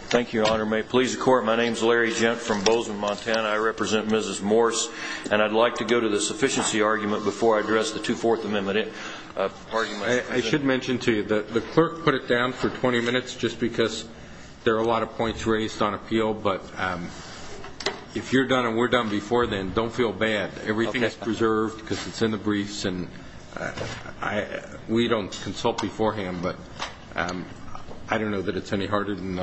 Thank you, Your Honor. May it please the Court, my name is Larry Gent from Bozeman, Montana. I represent Mrs. Morse, and I'd like to go to the sufficiency argument before I address the Two-Fourth Amendment. I should mention to you that the clerk put it down for 20 minutes just because there are a lot of points raised on appeal, but if you're done and we're done before then, don't feel bad. Everything is preserved because it's in the briefs, and we don't consult beforehand, but I don't know that it's any harder than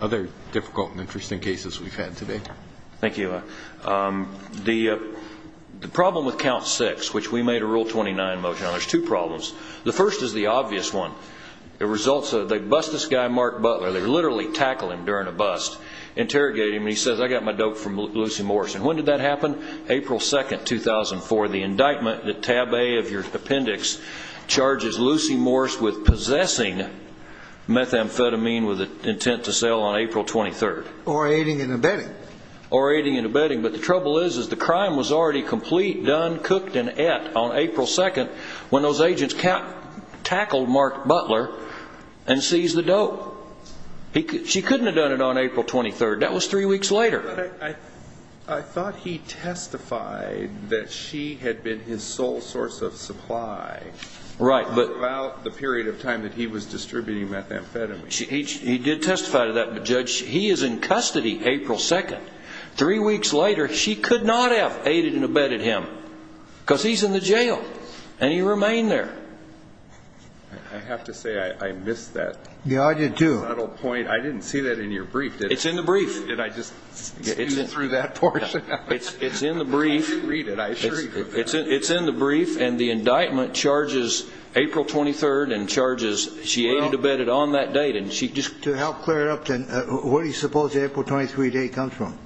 other difficult and interesting cases we've had today. Thank you, Your Honor. The problem with Count 6, which we made a Rule 29 motion on, there's two problems. The first is the obvious one. It results in they bust this guy, Mark Butler. They literally tackle him during a bust, interrogate him, and he says, I got my dope from Lucy Morse. And when did that happen? April 2, 2004. The indictment, the tab A of your appendix, charges Lucy Morse with possessing methamphetamine with the intent to sell on April 23. Or aiding and abetting. Or aiding and abetting, but the trouble is the crime was already complete, done, cooked, and et on April 2 when those agents tackled Mark Butler and seized the dope. She couldn't have done it on April 23. That was three weeks later. But I thought he testified that she had been his sole source of supply about the period of time that he was distributing methamphetamine. He did testify to that, but Judge, he is in custody April 2. Three weeks later, she could not have aided and abetted him. Because he's in the jail, and he remained there. I have to say I missed that subtle point. I didn't see that in your brief. It's in the brief. Did I just skew you through that portion? It's in the brief, and the indictment charges April 23 and charges she aided and abetted on that date. To help clear it up, where do you suppose the April 23 date comes from?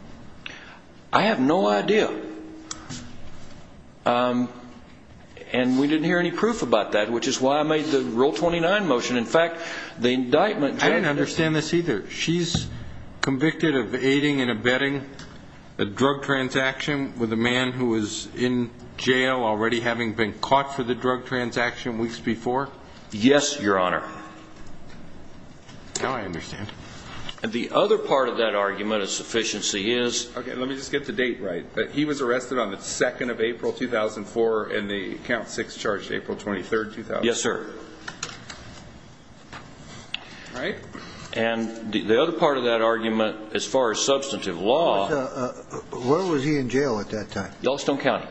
I have no idea. And we didn't hear any proof about that, which is why I made the Rule 29 motion. I don't understand this either. She's convicted of aiding and abetting a drug transaction with a man who was in jail, already having been caught for the drug transaction weeks before? Yes, Your Honor. Now I understand. The other part of that argument of sufficiency is... Okay, let me just get the date right. He was arrested on the 2nd of April, 2004, and the Count Six charged April 23, 2004. Yes, sir. All right. And the other part of that argument, as far as substantive law... Where was he in jail at that time? Yellowstone County,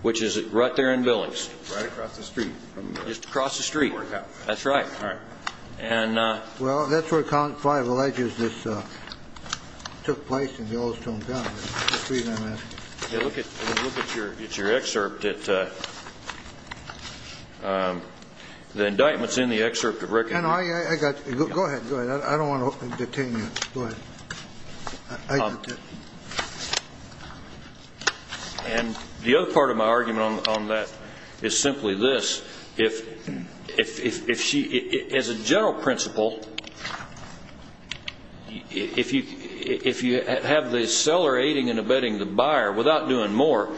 which is right there in Billings. Right across the street. Just across the street. That's right. All right. Well, that's where Count Five alleges this took place, in Yellowstone County. Let me look at your excerpt. The indictment's in the excerpt. Go ahead. I don't want to detain you. Go ahead. And the other part of my argument on that is simply this. As a general principle, if you have the seller aiding and abetting the buyer without doing more,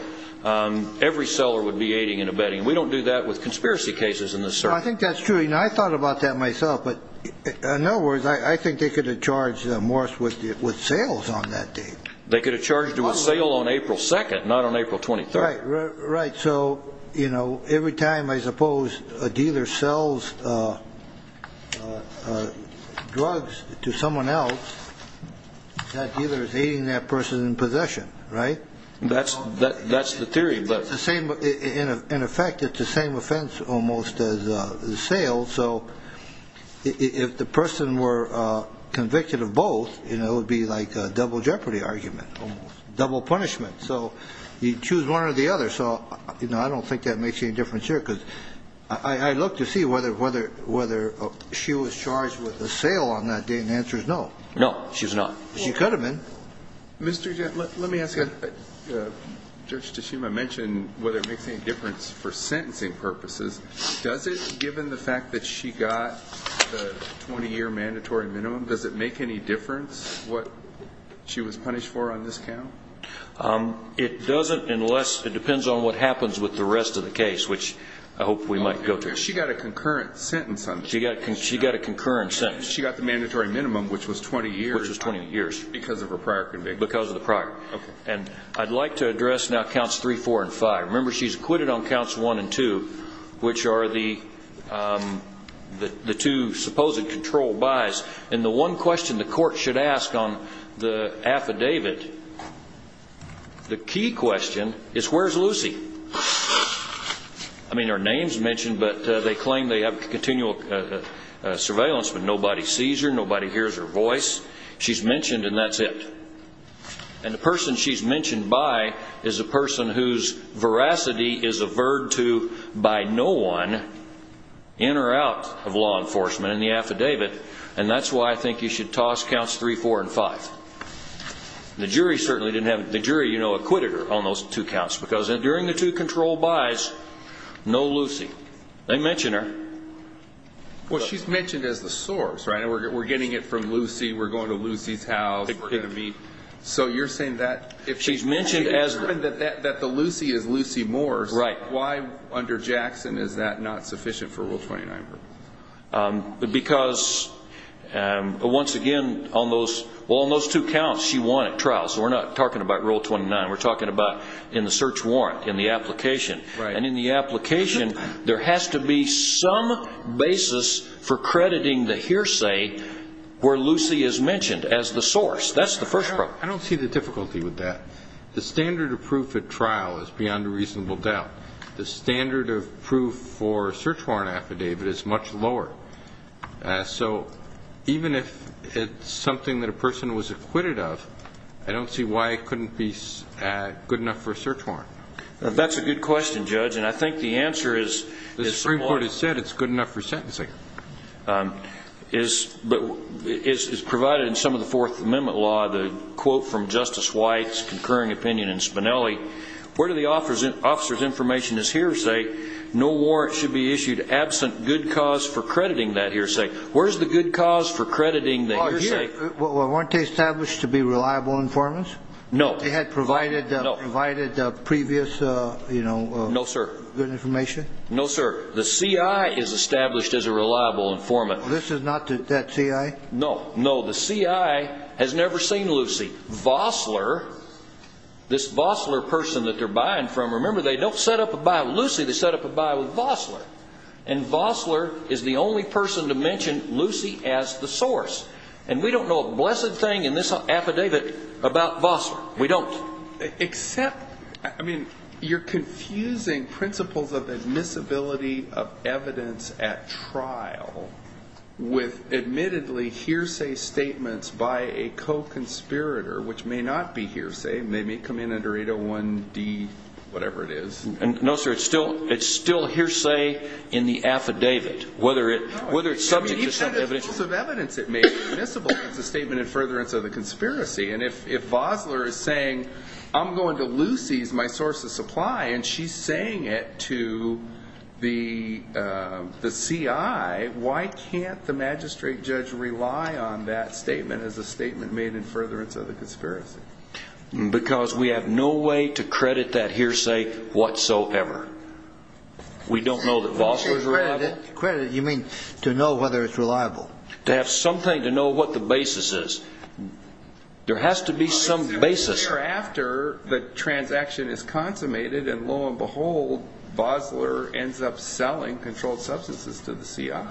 every seller would be aiding and abetting. We don't do that with conspiracy cases in this circuit. I think that's true. I thought about that myself. But in other words, I think they could have charged Morris with sales on that day. They could have charged him with sale on April 2nd, not on April 23rd. Right. So, you know, every time, I suppose, a dealer sells drugs to someone else, that dealer is aiding that person in possession, right? That's the theory. In effect, it's the same offense almost as sales. So if the person were convicted of both, it would be like a double jeopardy argument, almost. Double punishment. So you choose one or the other. So, you know, I don't think that makes any difference here. Because I look to see whether she was charged with a sale on that day. And the answer is no. No, she's not. She could have been. Mr. Judge, let me ask you. Judge Tashima mentioned whether it makes any difference for sentencing purposes. Does it, given the fact that she got the 20-year mandatory minimum, does it make any difference what she was punished for on this count? It doesn't unless it depends on what happens with the rest of the case, which I hope we might go to. She got a concurrent sentence on this. She got a concurrent sentence. She got the mandatory minimum, which was 20 years. Which was 20 years. Because of her prior conviction. Because of the prior. Okay. And I'd like to address now counts 3, 4, and 5. Remember, she's acquitted on counts 1 and 2, which are the two supposed controlled buys. And the one question the court should ask on the affidavit, the key question, is where's Lucy? I mean, her name's mentioned, but they claim they have continual surveillance, but nobody sees her. Nobody hears her voice. She's mentioned, and that's it. And the person she's mentioned by is a person whose veracity is averred to by no one, in or out of law enforcement, in the affidavit. And that's why I think you should toss counts 3, 4, and 5. The jury, you know, acquitted her on those two counts, because during the two controlled buys, no Lucy. They mention her. Well, she's mentioned as the source, right? We're getting it from Lucy. We're going to Lucy's house. We're going to meet. So you're saying that if she's mentioned that the Lucy is Lucy Moores, why under Jackson is that not sufficient for Rule 29? Because, once again, on those two counts, she won at trial. So we're not talking about Rule 29. We're talking about in the search warrant, in the application. And in the application, there has to be some basis for crediting the hearsay where Lucy is mentioned as the source. That's the first part. I don't see the difficulty with that. The standard of proof at trial is beyond a reasonable doubt. The standard of proof for a search warrant affidavit is much lower. So even if it's something that a person was acquitted of, I don't see why it couldn't be good enough for a search warrant. That's a good question, Judge, and I think the answer is support. The Supreme Court has said it's good enough for sentencing. But as provided in some of the Fourth Amendment law, the quote from Justice White's concurring opinion in Spinelli, where do the officer's information is hearsay? No warrant should be issued absent good cause for crediting that hearsay. Where is the good cause for crediting the hearsay? Weren't they established to be reliable informants? No. They had provided previous, you know, good information? No, sir. No, sir. The CI is established as a reliable informant. This is not that CI? No, no. The CI has never seen Lucy. Vossler, this Vossler person that they're buying from, remember they don't set up a buy with Lucy, they set up a buy with Vossler. And Vossler is the only person to mention Lucy as the source. And we don't know a blessed thing in this affidavit about Vossler. We don't. Except, I mean, you're confusing principles of admissibility of evidence at trial with admittedly hearsay statements by a co-conspirator, which may not be hearsay and they may come in under 801-D, whatever it is. No, sir. It's still hearsay in the affidavit, whether it's subject to some evidence. It's a statement in furtherance of the conspiracy. And if Vossler is saying, I'm going to Lucy as my source of supply, and she's saying it to the CI, why can't the magistrate judge rely on that statement as a statement made in furtherance of the conspiracy? Because we have no way to credit that hearsay whatsoever. We don't know that Vossler is reliable. By credit, you mean to know whether it's reliable. To have something to know what the basis is. There has to be some basis. It's a year after the transaction is consummated, and lo and behold, Vossler ends up selling controlled substances to the CI.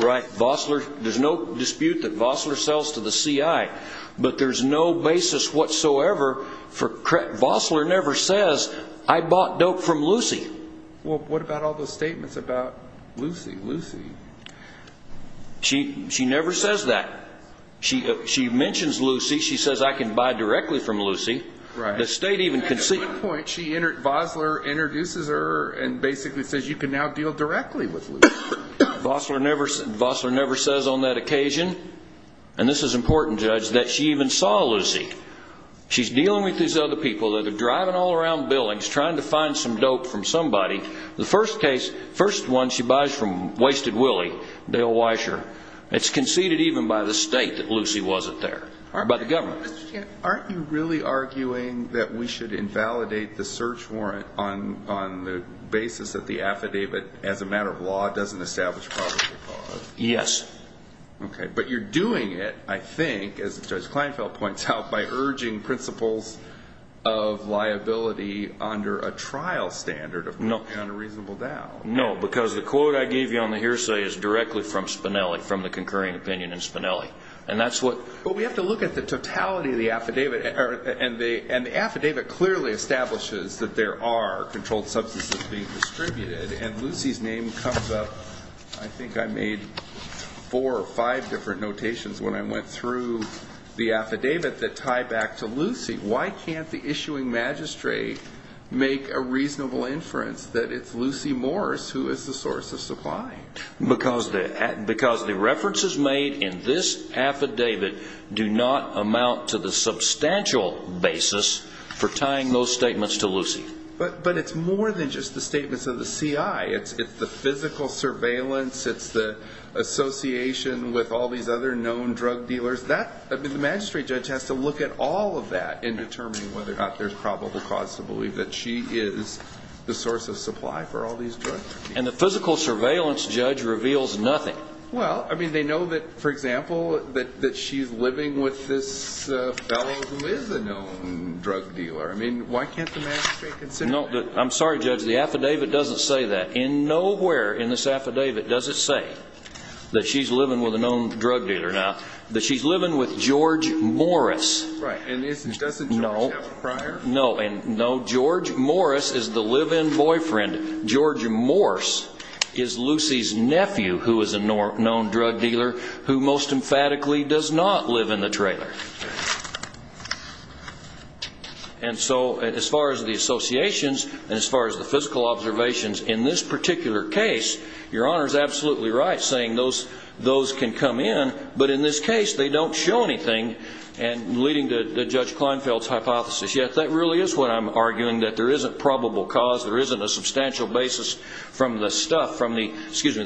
Right. There's no dispute that Vossler sells to the CI. But there's no basis whatsoever. Vossler never says, I bought dope from Lucy. Well, what about all those statements about Lucy, Lucy? She never says that. She mentions Lucy. She says, I can buy directly from Lucy. Right. At one point, Vossler introduces her and basically says, you can now deal directly with Lucy. Vossler never says on that occasion, and this is important, Judge, that she even saw Lucy. She's dealing with these other people that are driving all around Billings trying to find some dope from somebody. The first one she buys from Wasted Willie, Dale Weisher. It's conceded even by the state that Lucy wasn't there, by the government. Aren't you really arguing that we should invalidate the search warrant on the basis that the affidavit as a matter of law doesn't establish probable cause? Yes. Okay. But you're doing it, I think, as Judge Kleinfeld points out, by urging principles of liability under a trial standard of an unreasonable doubt. No, because the quote I gave you on the hearsay is directly from Spinelli, from the concurring opinion in Spinelli. And that's what we have to look at the totality of the affidavit. And the affidavit clearly establishes that there are controlled substances being distributed. And Lucy's name comes up, I think I made four or five different notations when I went through the affidavit that tie back to Lucy. Why can't the issuing magistrate make a reasonable inference that it's Lucy Morris who is the source of supply? Because the references made in this affidavit do not amount to the substantial basis for tying those statements to Lucy. But it's more than just the statements of the CI. It's the physical surveillance. It's the association with all these other known drug dealers. The magistrate judge has to look at all of that in determining whether or not there's probable cause to believe that she is the source of supply for all these drugs. And the physical surveillance judge reveals nothing. Well, I mean, they know that, for example, that she's living with this fellow who is a known drug dealer. I mean, why can't the magistrate consider that? No, I'm sorry, Judge, the affidavit doesn't say that. In nowhere in this affidavit does it say that she's living with a known drug dealer. Now, that she's living with George Morris. Right. And doesn't George have a prior? No. No, George Morris is the live-in boyfriend. George Morse is Lucy's nephew who is a known drug dealer who most emphatically does not live in the trailer. And so as far as the associations and as far as the physical observations, in this particular case, your Honor is absolutely right saying those can come in, but in this case they don't show anything, leading to Judge Kleinfeld's hypothesis. Yet that really is what I'm arguing, that there isn't probable cause, there isn't a substantial basis from the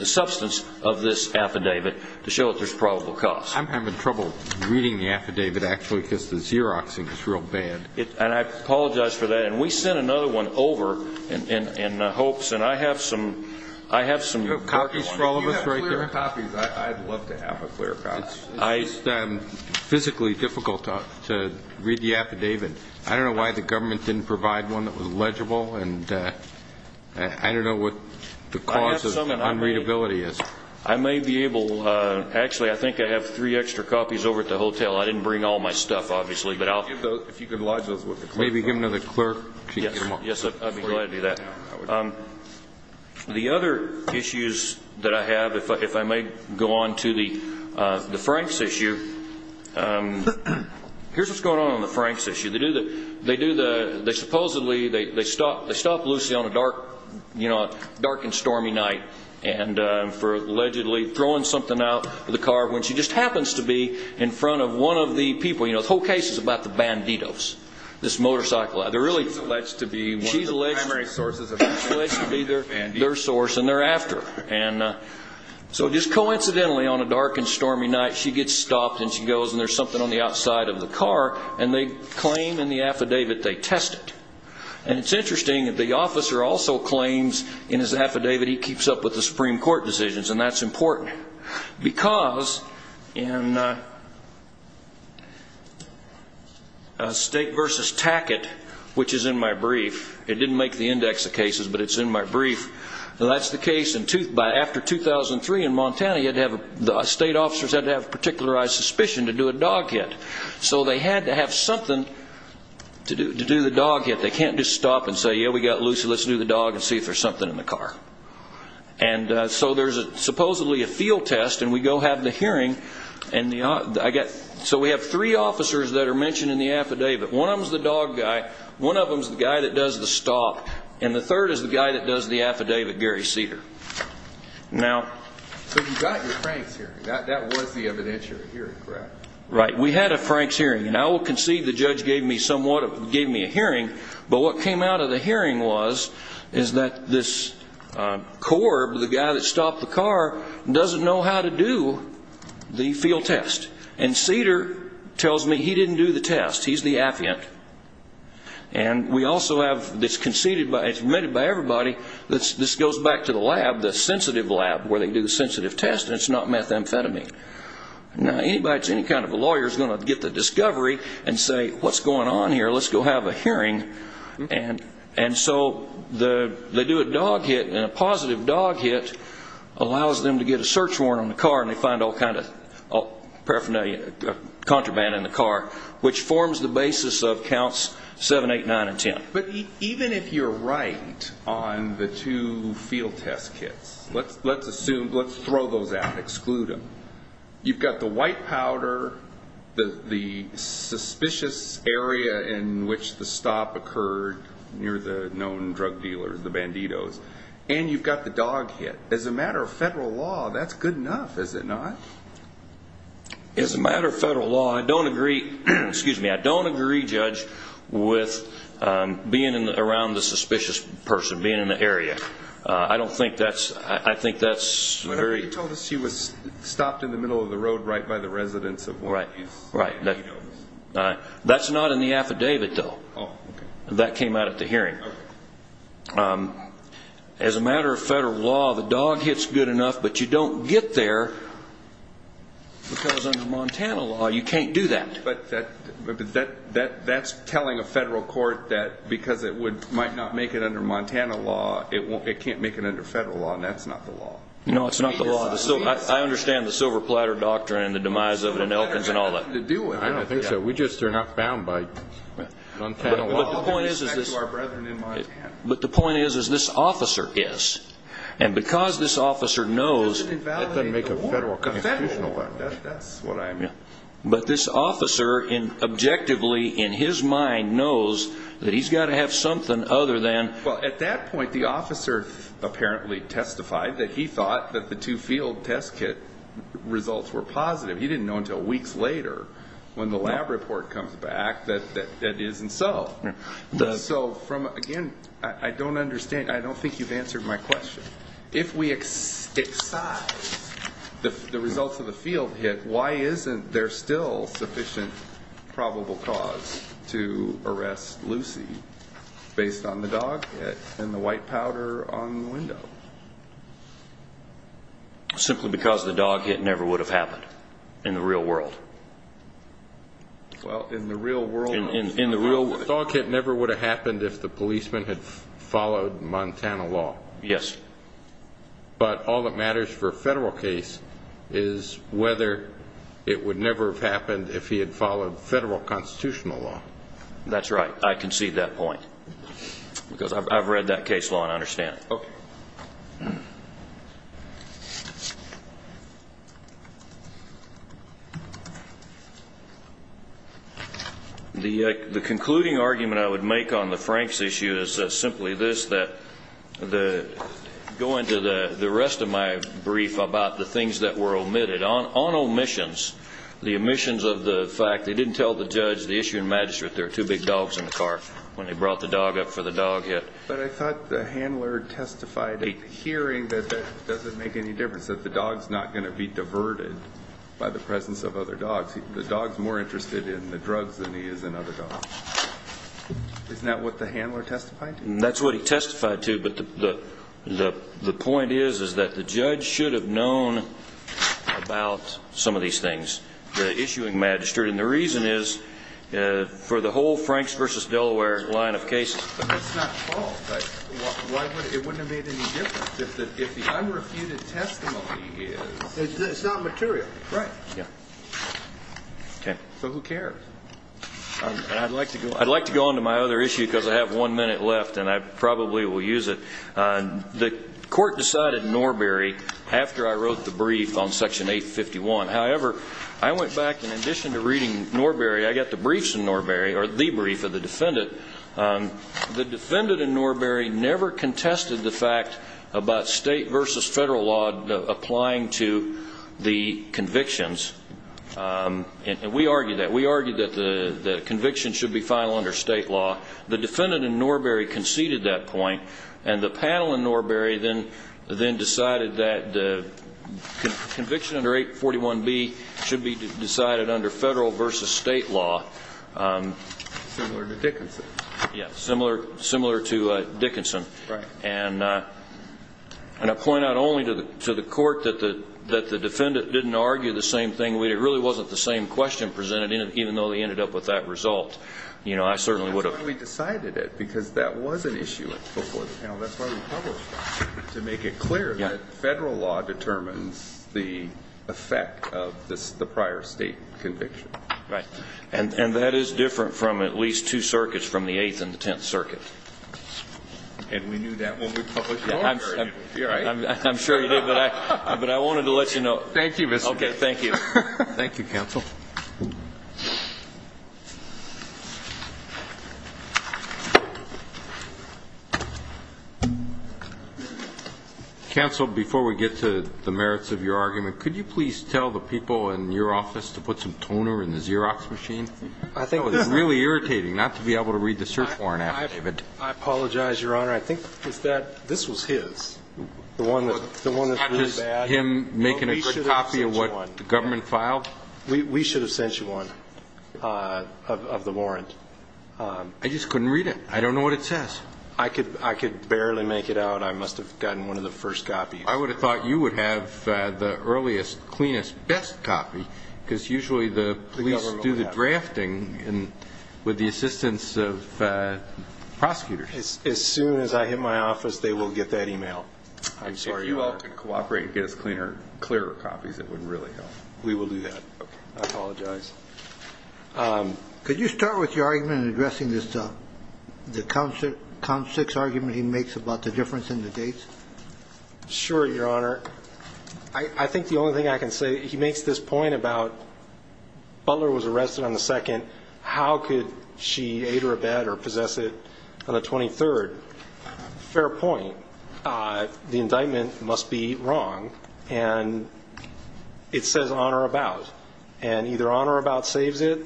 substance of this affidavit to show that there's probable cause. I'm having trouble reading the affidavit, actually, because the Xeroxing is real bad. And I apologize for that. And we sent another one over in hopes, and I have some copies for all of us right there. You have clear copies. I'd love to have a clear copy. It's just physically difficult to read the affidavit. I don't know why the government didn't provide one that was legible, and I don't know what the cause of unreadability is. I may be able, actually, I think I have three extra copies over at the hotel. I didn't bring all my stuff, obviously. If you could lodge those with the clerk. Maybe give them to the clerk. Yes, I'd be glad to do that. The other issues that I have, if I may go on to the Franks issue, here's what's going on on the Franks issue. They supposedly stopped Lucy on a dark and stormy night, and for allegedly throwing something out of the car, when she just happens to be in front of one of the people. You know, the whole case is about the Banditos, this motorcycle. She's alleged to be one of the primary sources of the Banditos. She's alleged to be their source, and they're after her. And so just coincidentally, on a dark and stormy night, she gets stopped, and she goes, and there's something on the outside of the car, and they claim in the affidavit they test it. And it's interesting that the officer also claims in his affidavit he keeps up with the Supreme Court decisions, and that's important because in State v. Tackett, which is in my brief, it didn't make the index of cases, but it's in my brief, that's the case after 2003 in Montana. The state officers had to have a particularized suspicion to do a dog hit. So they had to have something to do the dog hit. They can't just stop and say, yeah, we got Lucy. Let's do the dog and see if there's something in the car. And so there's supposedly a field test, and we go have the hearing. So we have three officers that are mentioned in the affidavit. One of them is the dog guy. One of them is the guy that does the stop. And the third is the guy that does the affidavit, Gary Cedar. So you got your Frank's hearing. That was the evidentiary hearing, correct? Right. We had a Frank's hearing, and I will concede the judge gave me a hearing, but what came out of the hearing was that this Corb, the guy that stopped the car, doesn't know how to do the field test. And Cedar tells me he didn't do the test. He's the affiant. And we also have this conceded by everybody, this goes back to the lab, the sensitive lab where they do the sensitive test, and it's not methamphetamine. Now, anybody that's any kind of a lawyer is going to get the discovery and say, what's going on here? Let's go have a hearing. And so they do a dog hit, and a positive dog hit allows them to get a search warrant on the car, and they find all kinds of paraphernalia, contraband in the car, which forms the basis of counts 7, 8, 9, and 10. But even if you're right on the two field test kits, let's assume, let's throw those out, exclude them. You've got the white powder, the suspicious area in which the stop occurred near the known drug dealers, the banditos, and you've got the dog hit. As a matter of federal law, that's good enough, is it not? As a matter of federal law, I don't agree, excuse me, I don't agree, Judge, with being around the suspicious person, being in the area. I don't think that's, I think that's very... You told us she was stopped in the middle of the road right by the residence of one of these... Right, right. That's not in the affidavit, though. Oh, okay. That came out at the hearing. Okay. As a matter of federal law, the dog hit's good enough, but you don't get there, because under Montana law, you can't do that. But that's telling a federal court that because it might not make it under Montana law, it can't make it under federal law, and that's not the law. No, it's not the law. I understand the silver platter doctrine and the demise of it in Elkins and all that. I don't think so. We just are not bound by Montana law with respect to our brethren in Montana. But the point is, is this officer is, and because this officer knows... It doesn't invalidate the war. The federal war, that's what I mean. But this officer, objectively, in his mind, knows that he's got to have something other than... Well, at that point, the officer apparently testified that he thought that the two field test kit results were positive. He didn't know until weeks later, when the lab report comes back, that it isn't so. So, again, I don't understand. I don't think you've answered my question. If we excise the results of the field hit, why isn't there still sufficient probable cause to arrest Lucy, based on the dog hit and the white powder on the window? Simply because the dog hit never would have happened in the real world. Well, in the real world... The dog hit never would have happened if the policeman had followed Montana law. Yes. But all that matters for a federal case is whether it would never have happened if he had followed federal constitutional law. That's right. I concede that point because I've read that case law and I understand it. Okay. The concluding argument I would make on the Franks issue is simply this, that going to the rest of my brief about the things that were omitted, on omissions, the omissions of the fact they didn't tell the judge, the issue in Magistrate, there are two big dogs in the car when they brought the dog up for the dog hit. But I thought the handler testified at the hearing that that doesn't make any difference, that the dog's not going to be diverted by the presence of other dogs. The dog's more interested in the drugs than he is in other dogs. Isn't that what the handler testified? That's what he testified to, but the point is that the judge should have known about some of these things, the issue in Magistrate, and the reason is for the whole Franks v. Delaware line of cases. But that's not the fault. It wouldn't have made any difference if the unrefuted testimony is. It's not material. Right. Yeah. Okay. So who cares? I'd like to go on to my other issue because I have one minute left, and I probably will use it. The court decided Norberry after I wrote the brief on Section 851. However, I went back, in addition to reading Norberry, I got the briefs in Norberry, or the brief of the defendant. The defendant in Norberry never contested the fact about state versus federal law applying to the convictions, and we argued that. The conviction should be final under state law. The defendant in Norberry conceded that point, and the panel in Norberry then decided that the conviction under 841B should be decided under federal versus state law. Similar to Dickinson. Yes, similar to Dickinson. Right. And I point out only to the court that the defendant didn't argue the same thing. It really wasn't the same question presented, even though they ended up with that result. I certainly would have. That's why we decided it, because that was an issue before the panel. That's why we published that, to make it clear that federal law determines the effect of the prior state conviction. Right. And that is different from at least two circuits, from the Eighth and the Tenth Circuit. And we knew that when we published Norberry. I'm sure you did, but I wanted to let you know. Thank you, Mr. Gates. Okay, thank you. Thank you, counsel. Counsel, before we get to the merits of your argument, could you please tell the people in your office to put some toner in the Xerox machine? I think it was really irritating not to be able to read the search warrant affidavit. I apologize, Your Honor. I think this was his, the one that's really bad. Was it him making a good copy of what the government filed? We should have sent you one of the warrant. I just couldn't read it. I don't know what it says. I could barely make it out. I must have gotten one of the first copies. I would have thought you would have the earliest, cleanest, best copy, because usually the police do the drafting with the assistance of prosecutors. As soon as I hit my office, they will get that email. I'm sorry, Your Honor. If you all could cooperate and get us cleaner, clearer copies, it would really help. We will do that. Okay. I apologize. Could you start with your argument in addressing this, the count six argument he makes about the difference in the dates? Sure, Your Honor. I think the only thing I can say, he makes this point about Butler was arrested on the 2nd. How could she aid or abet or possess it on the 23rd? Fair point. The indictment must be wrong, and it says on or about, and either on or about saves it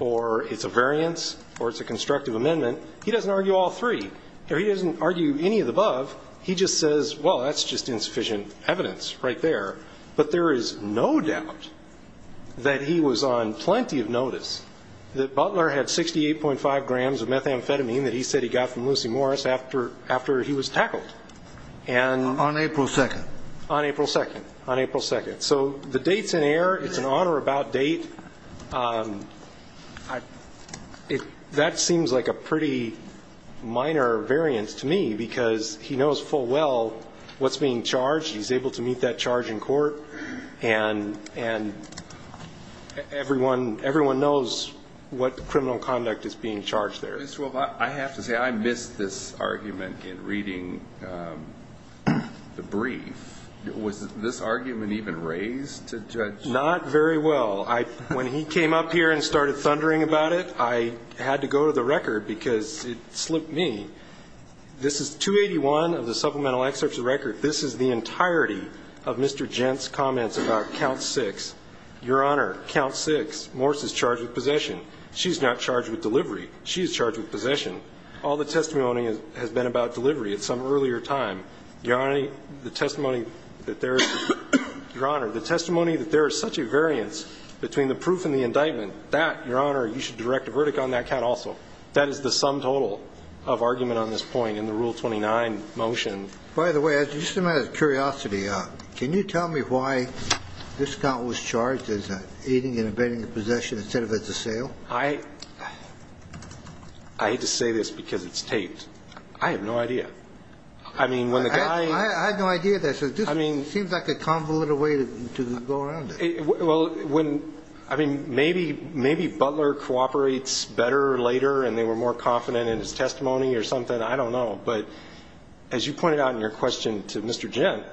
or it's a variance or it's a constructive amendment. He doesn't argue all three. He doesn't argue any of the above. He just says, well, that's just insufficient evidence right there. But there is no doubt that he was on plenty of notice that Butler had 68.5 grams of methamphetamine that he said he got from Lucy Morris after he was tackled. On April 2nd. On April 2nd. On April 2nd. So the date's in error. It's an on or about date. That seems like a pretty minor variance to me because he knows full well what's being charged. He's able to meet that charge in court. And everyone knows what criminal conduct is being charged there. Mr. Wolfe, I have to say I missed this argument in reading the brief. Was this argument even raised to Judge? Not very well. When he came up here and started thundering about it, I had to go to the record because it slipped me. This is 281 of the supplemental excerpts of the record. This is the entirety of Mr. Gent's comments about count six. Your Honor, count six. Morris is charged with possession. She's not charged with delivery. She's charged with possession. All the testimony has been about delivery at some earlier time. Your Honor, the testimony that there is such a variance between the proof and the indictment, that, Your Honor, you should direct a verdict on that count also. That is the sum total of argument on this point in the Rule 29 motion. By the way, just out of curiosity, can you tell me why this count was charged as aiding and abetting the possession instead of as a sale? I hate to say this because it's taped. I have no idea. I mean, when the guy ---- I have no idea. This seems like a convoluted way to go around it. Well, I mean, maybe Butler cooperates better later and they were more confident in his testimony or something. I don't know. But as you pointed out in your question to Mr. Gent,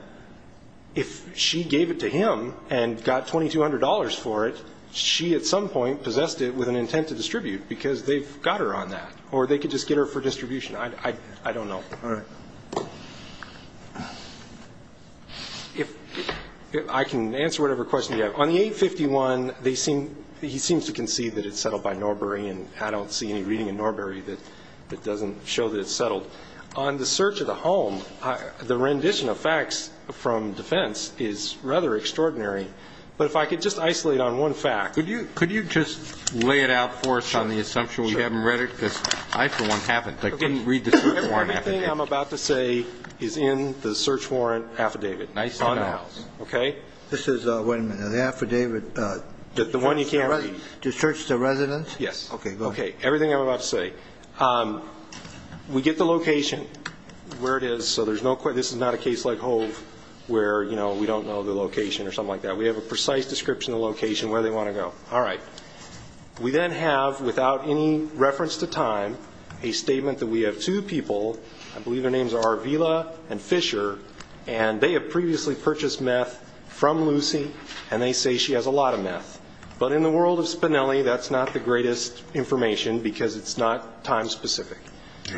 if she gave it to him and got $2,200 for it, she at some point possessed it with an intent to distribute because they've got her on that. Or they could just get her for distribution. I don't know. All right. If ---- I can answer whatever question you have. On the 851, they seem ---- he seems to concede that it's settled by Norbury, and I don't see any reading in Norbury that doesn't show that it's settled. On the search of the home, the rendition of facts from defense is rather extraordinary. But if I could just isolate on one fact. Could you just lay it out for us on the assumption we haven't read it? Sure. Because I, for one, haven't. I couldn't read the search warrant affidavit. Everything I'm about to say is in the search warrant affidavit. Nice to know. Okay? This is when the affidavit ---- The one you can't read. To search the residence? Yes. Okay. Go ahead. Okay. Everything I'm about to say. We get the location where it is, so there's no ---- this is not a case like Hove where, you know, we don't know the location or something like that. We have a precise description of the location, where they want to go. All right. We then have, without any reference to time, a statement that we have two people, I believe their names are Arvila and Fisher, and they have previously purchased meth from Lucy, and they say she has a lot of meth. But in the world of Spinelli, that's not the greatest information because it's not time-specific.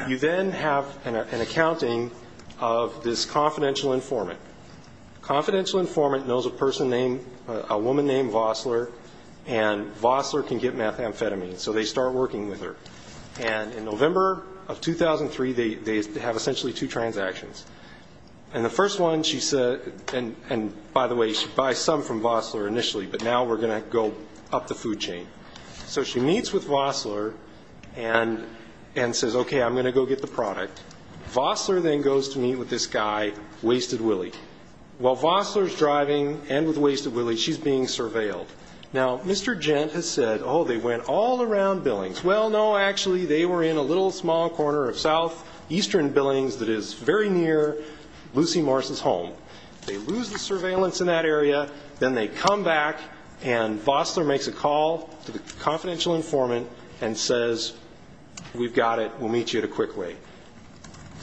You then have an accounting of this confidential informant. Confidential informant knows a person named ---- a woman named Vossler, and Vossler can get methamphetamine, so they start working with her. And in November of 2003, they have essentially two transactions. And the first one, she said ---- and, by the way, she buys some from Vossler initially, but now we're going to go up the food chain. So she meets with Vossler and says, okay, I'm going to go get the product. Vossler then goes to meet with this guy, Wasted Willie. While Vossler's driving and with Wasted Willie, she's being surveilled. Now, Mr. Gent has said, oh, they went all around Billings. Well, no, actually, they were in a little small corner of southeastern Billings that is very near Lucy Morris' home. They lose the surveillance in that area. Then they come back, and Vossler makes a call to the confidential informant and says, we've got it, we'll meet you at a quick way.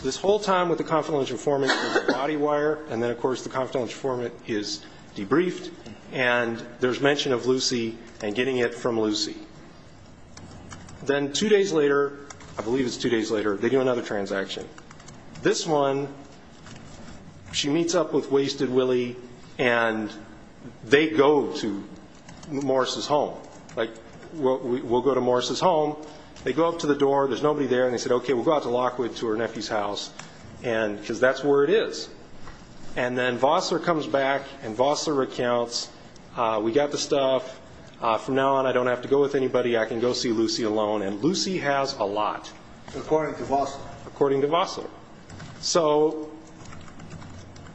This whole time with the confidential informant, there's a body wire, and then, of course, the confidential informant is debriefed, and there's mention of Lucy and getting it from Lucy. Then two days later, I believe it's two days later, they do another transaction. This one, she meets up with Wasted Willie, and they go to Morris' home. We'll go to Morris' home. They go up to the door. There's nobody there. They said, okay, we'll go out to Lockwood to her nephew's house because that's where it is. Then Vossler comes back, and Vossler recounts, we got the stuff. From now on, I don't have to go with anybody. I can go see Lucy alone. Lucy has a lot. According to Vossler. According to Vossler.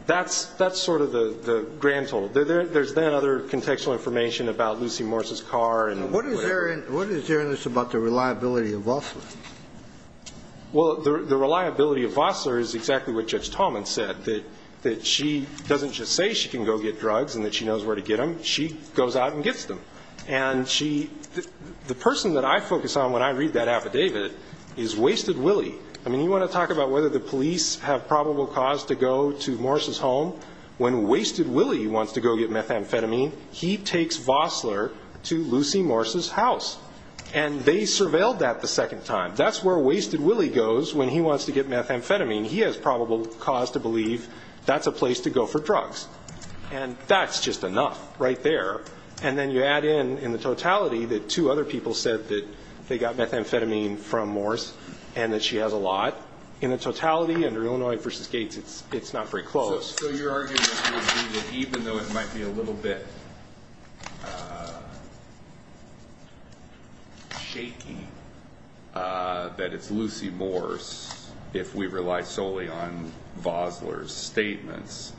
That's sort of the grand total. There's then other contextual information about Lucy Morris' car. What is there in this about the reliability of Vossler? Well, the reliability of Vossler is exactly what Judge Taubman said, that she doesn't just say she can go get drugs and that she knows where to get them. She goes out and gets them. And the person that I focus on when I read that affidavit is Wasted Willie. I mean, you want to talk about whether the police have probable cause to go to Morris' home when Wasted Willie wants to go get methamphetamine, he takes Vossler to Lucy Morris' house. And they surveilled that the second time. That's where Wasted Willie goes when he wants to get methamphetamine. He has probable cause to believe that's a place to go for drugs. And that's just enough right there. And then you add in, in the totality, that two other people said that they got methamphetamine from Morris and that she has a lot. In the totality, under Illinois v. Gates, it's not very close. So your argument would be that even though it might be a little bit shaky that it's Lucy Morris, if we rely solely on Vossler's statements,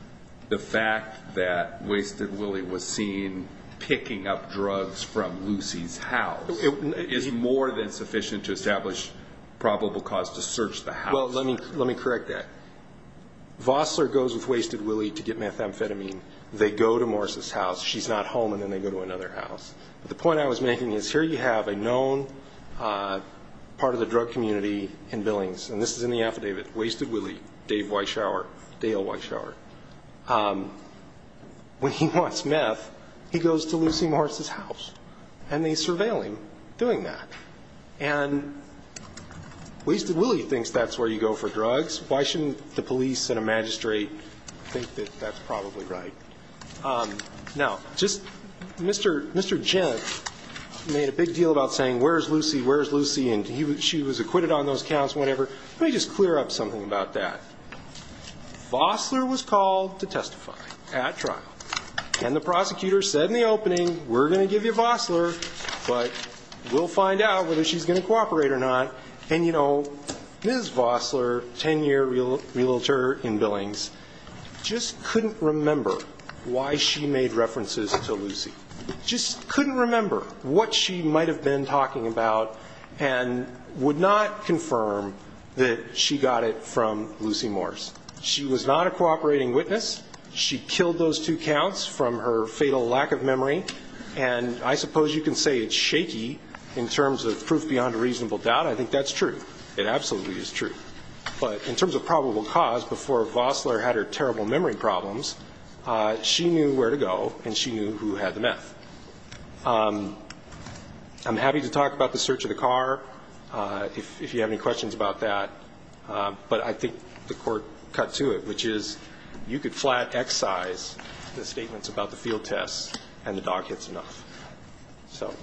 the fact that Wasted Willie was seen picking up drugs from Lucy's house is more than sufficient to establish probable cause to search the house. Well, let me correct that. Vossler goes with Wasted Willie to get methamphetamine. They go to Morris' house. She's not home, and then they go to another house. But the point I was making is here you have a known part of the drug community in Billings. And this is in the affidavit. Wasted Willie, Dave Weishauer, Dale Weishauer. When he wants meth, he goes to Lucy Morris' house. And they surveil him doing that. And Wasted Willie thinks that's where you go for drugs. Why shouldn't the police and a magistrate think that that's probably right? Now, just Mr. Gent made a big deal about saying where's Lucy, where's Lucy, and she was acquitted on those counts and whatever. Let me just clear up something about that. Vossler was called to testify at trial. And the prosecutor said in the opening, we're going to give you Vossler, but we'll find out whether she's going to cooperate or not. And, you know, Ms. Vossler, 10-year realtor in Billings, just couldn't remember why she made references to Lucy. Just couldn't remember what she might have been talking about and would not confirm that she got it from Lucy Morris. She was not a cooperating witness. She killed those two counts from her fatal lack of memory. And I suppose you can say it's shaky in terms of proof beyond a reasonable doubt. I think that's true. It absolutely is true. But in terms of probable cause, before Vossler had her terrible memory problems, she knew where to go and she knew who had the meth. I'm happy to talk about the search of the car if you have any questions about that. But I think the court cut to it, which is you could flat excise the statements about the field tests and the dog hits enough. So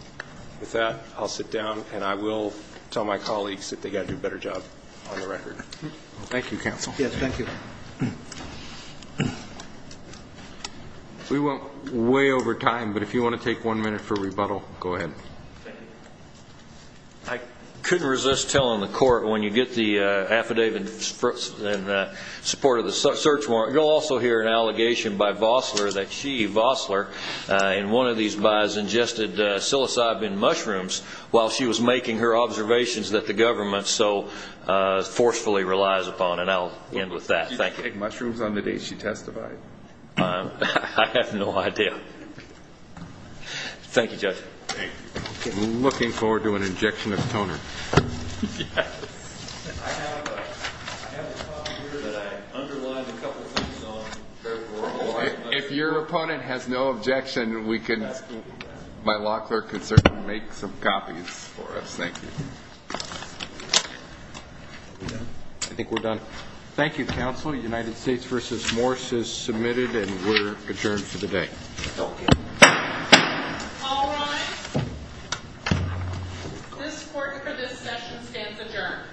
with that, I'll sit down, and I will tell my colleagues that they've got to do a better job on the record. Thank you, counsel. Yes, thank you. We went way over time, but if you want to take one minute for rebuttal, go ahead. I couldn't resist telling the court when you get the affidavit in support of the search warrant, you'll also hear an allegation by Vossler that she, Vossler, in one of these buys ingested psilocybin mushrooms while she was making her observations that the government so forcefully relies upon. And I'll end with that. Thank you. Did she take mushrooms on the day she testified? I have no idea. Thank you, Judge. Looking forward to an injection of toner. Yes. I have a copy here that I underlined a couple things on. If your opponent has no objection, my law clerk can certainly make some copies for us. Thank you. I think we're done. Thank you, counsel. United States v. Morse is submitted, and we're adjourned for the day. Okay. All rise. This court for this session stands adjourned.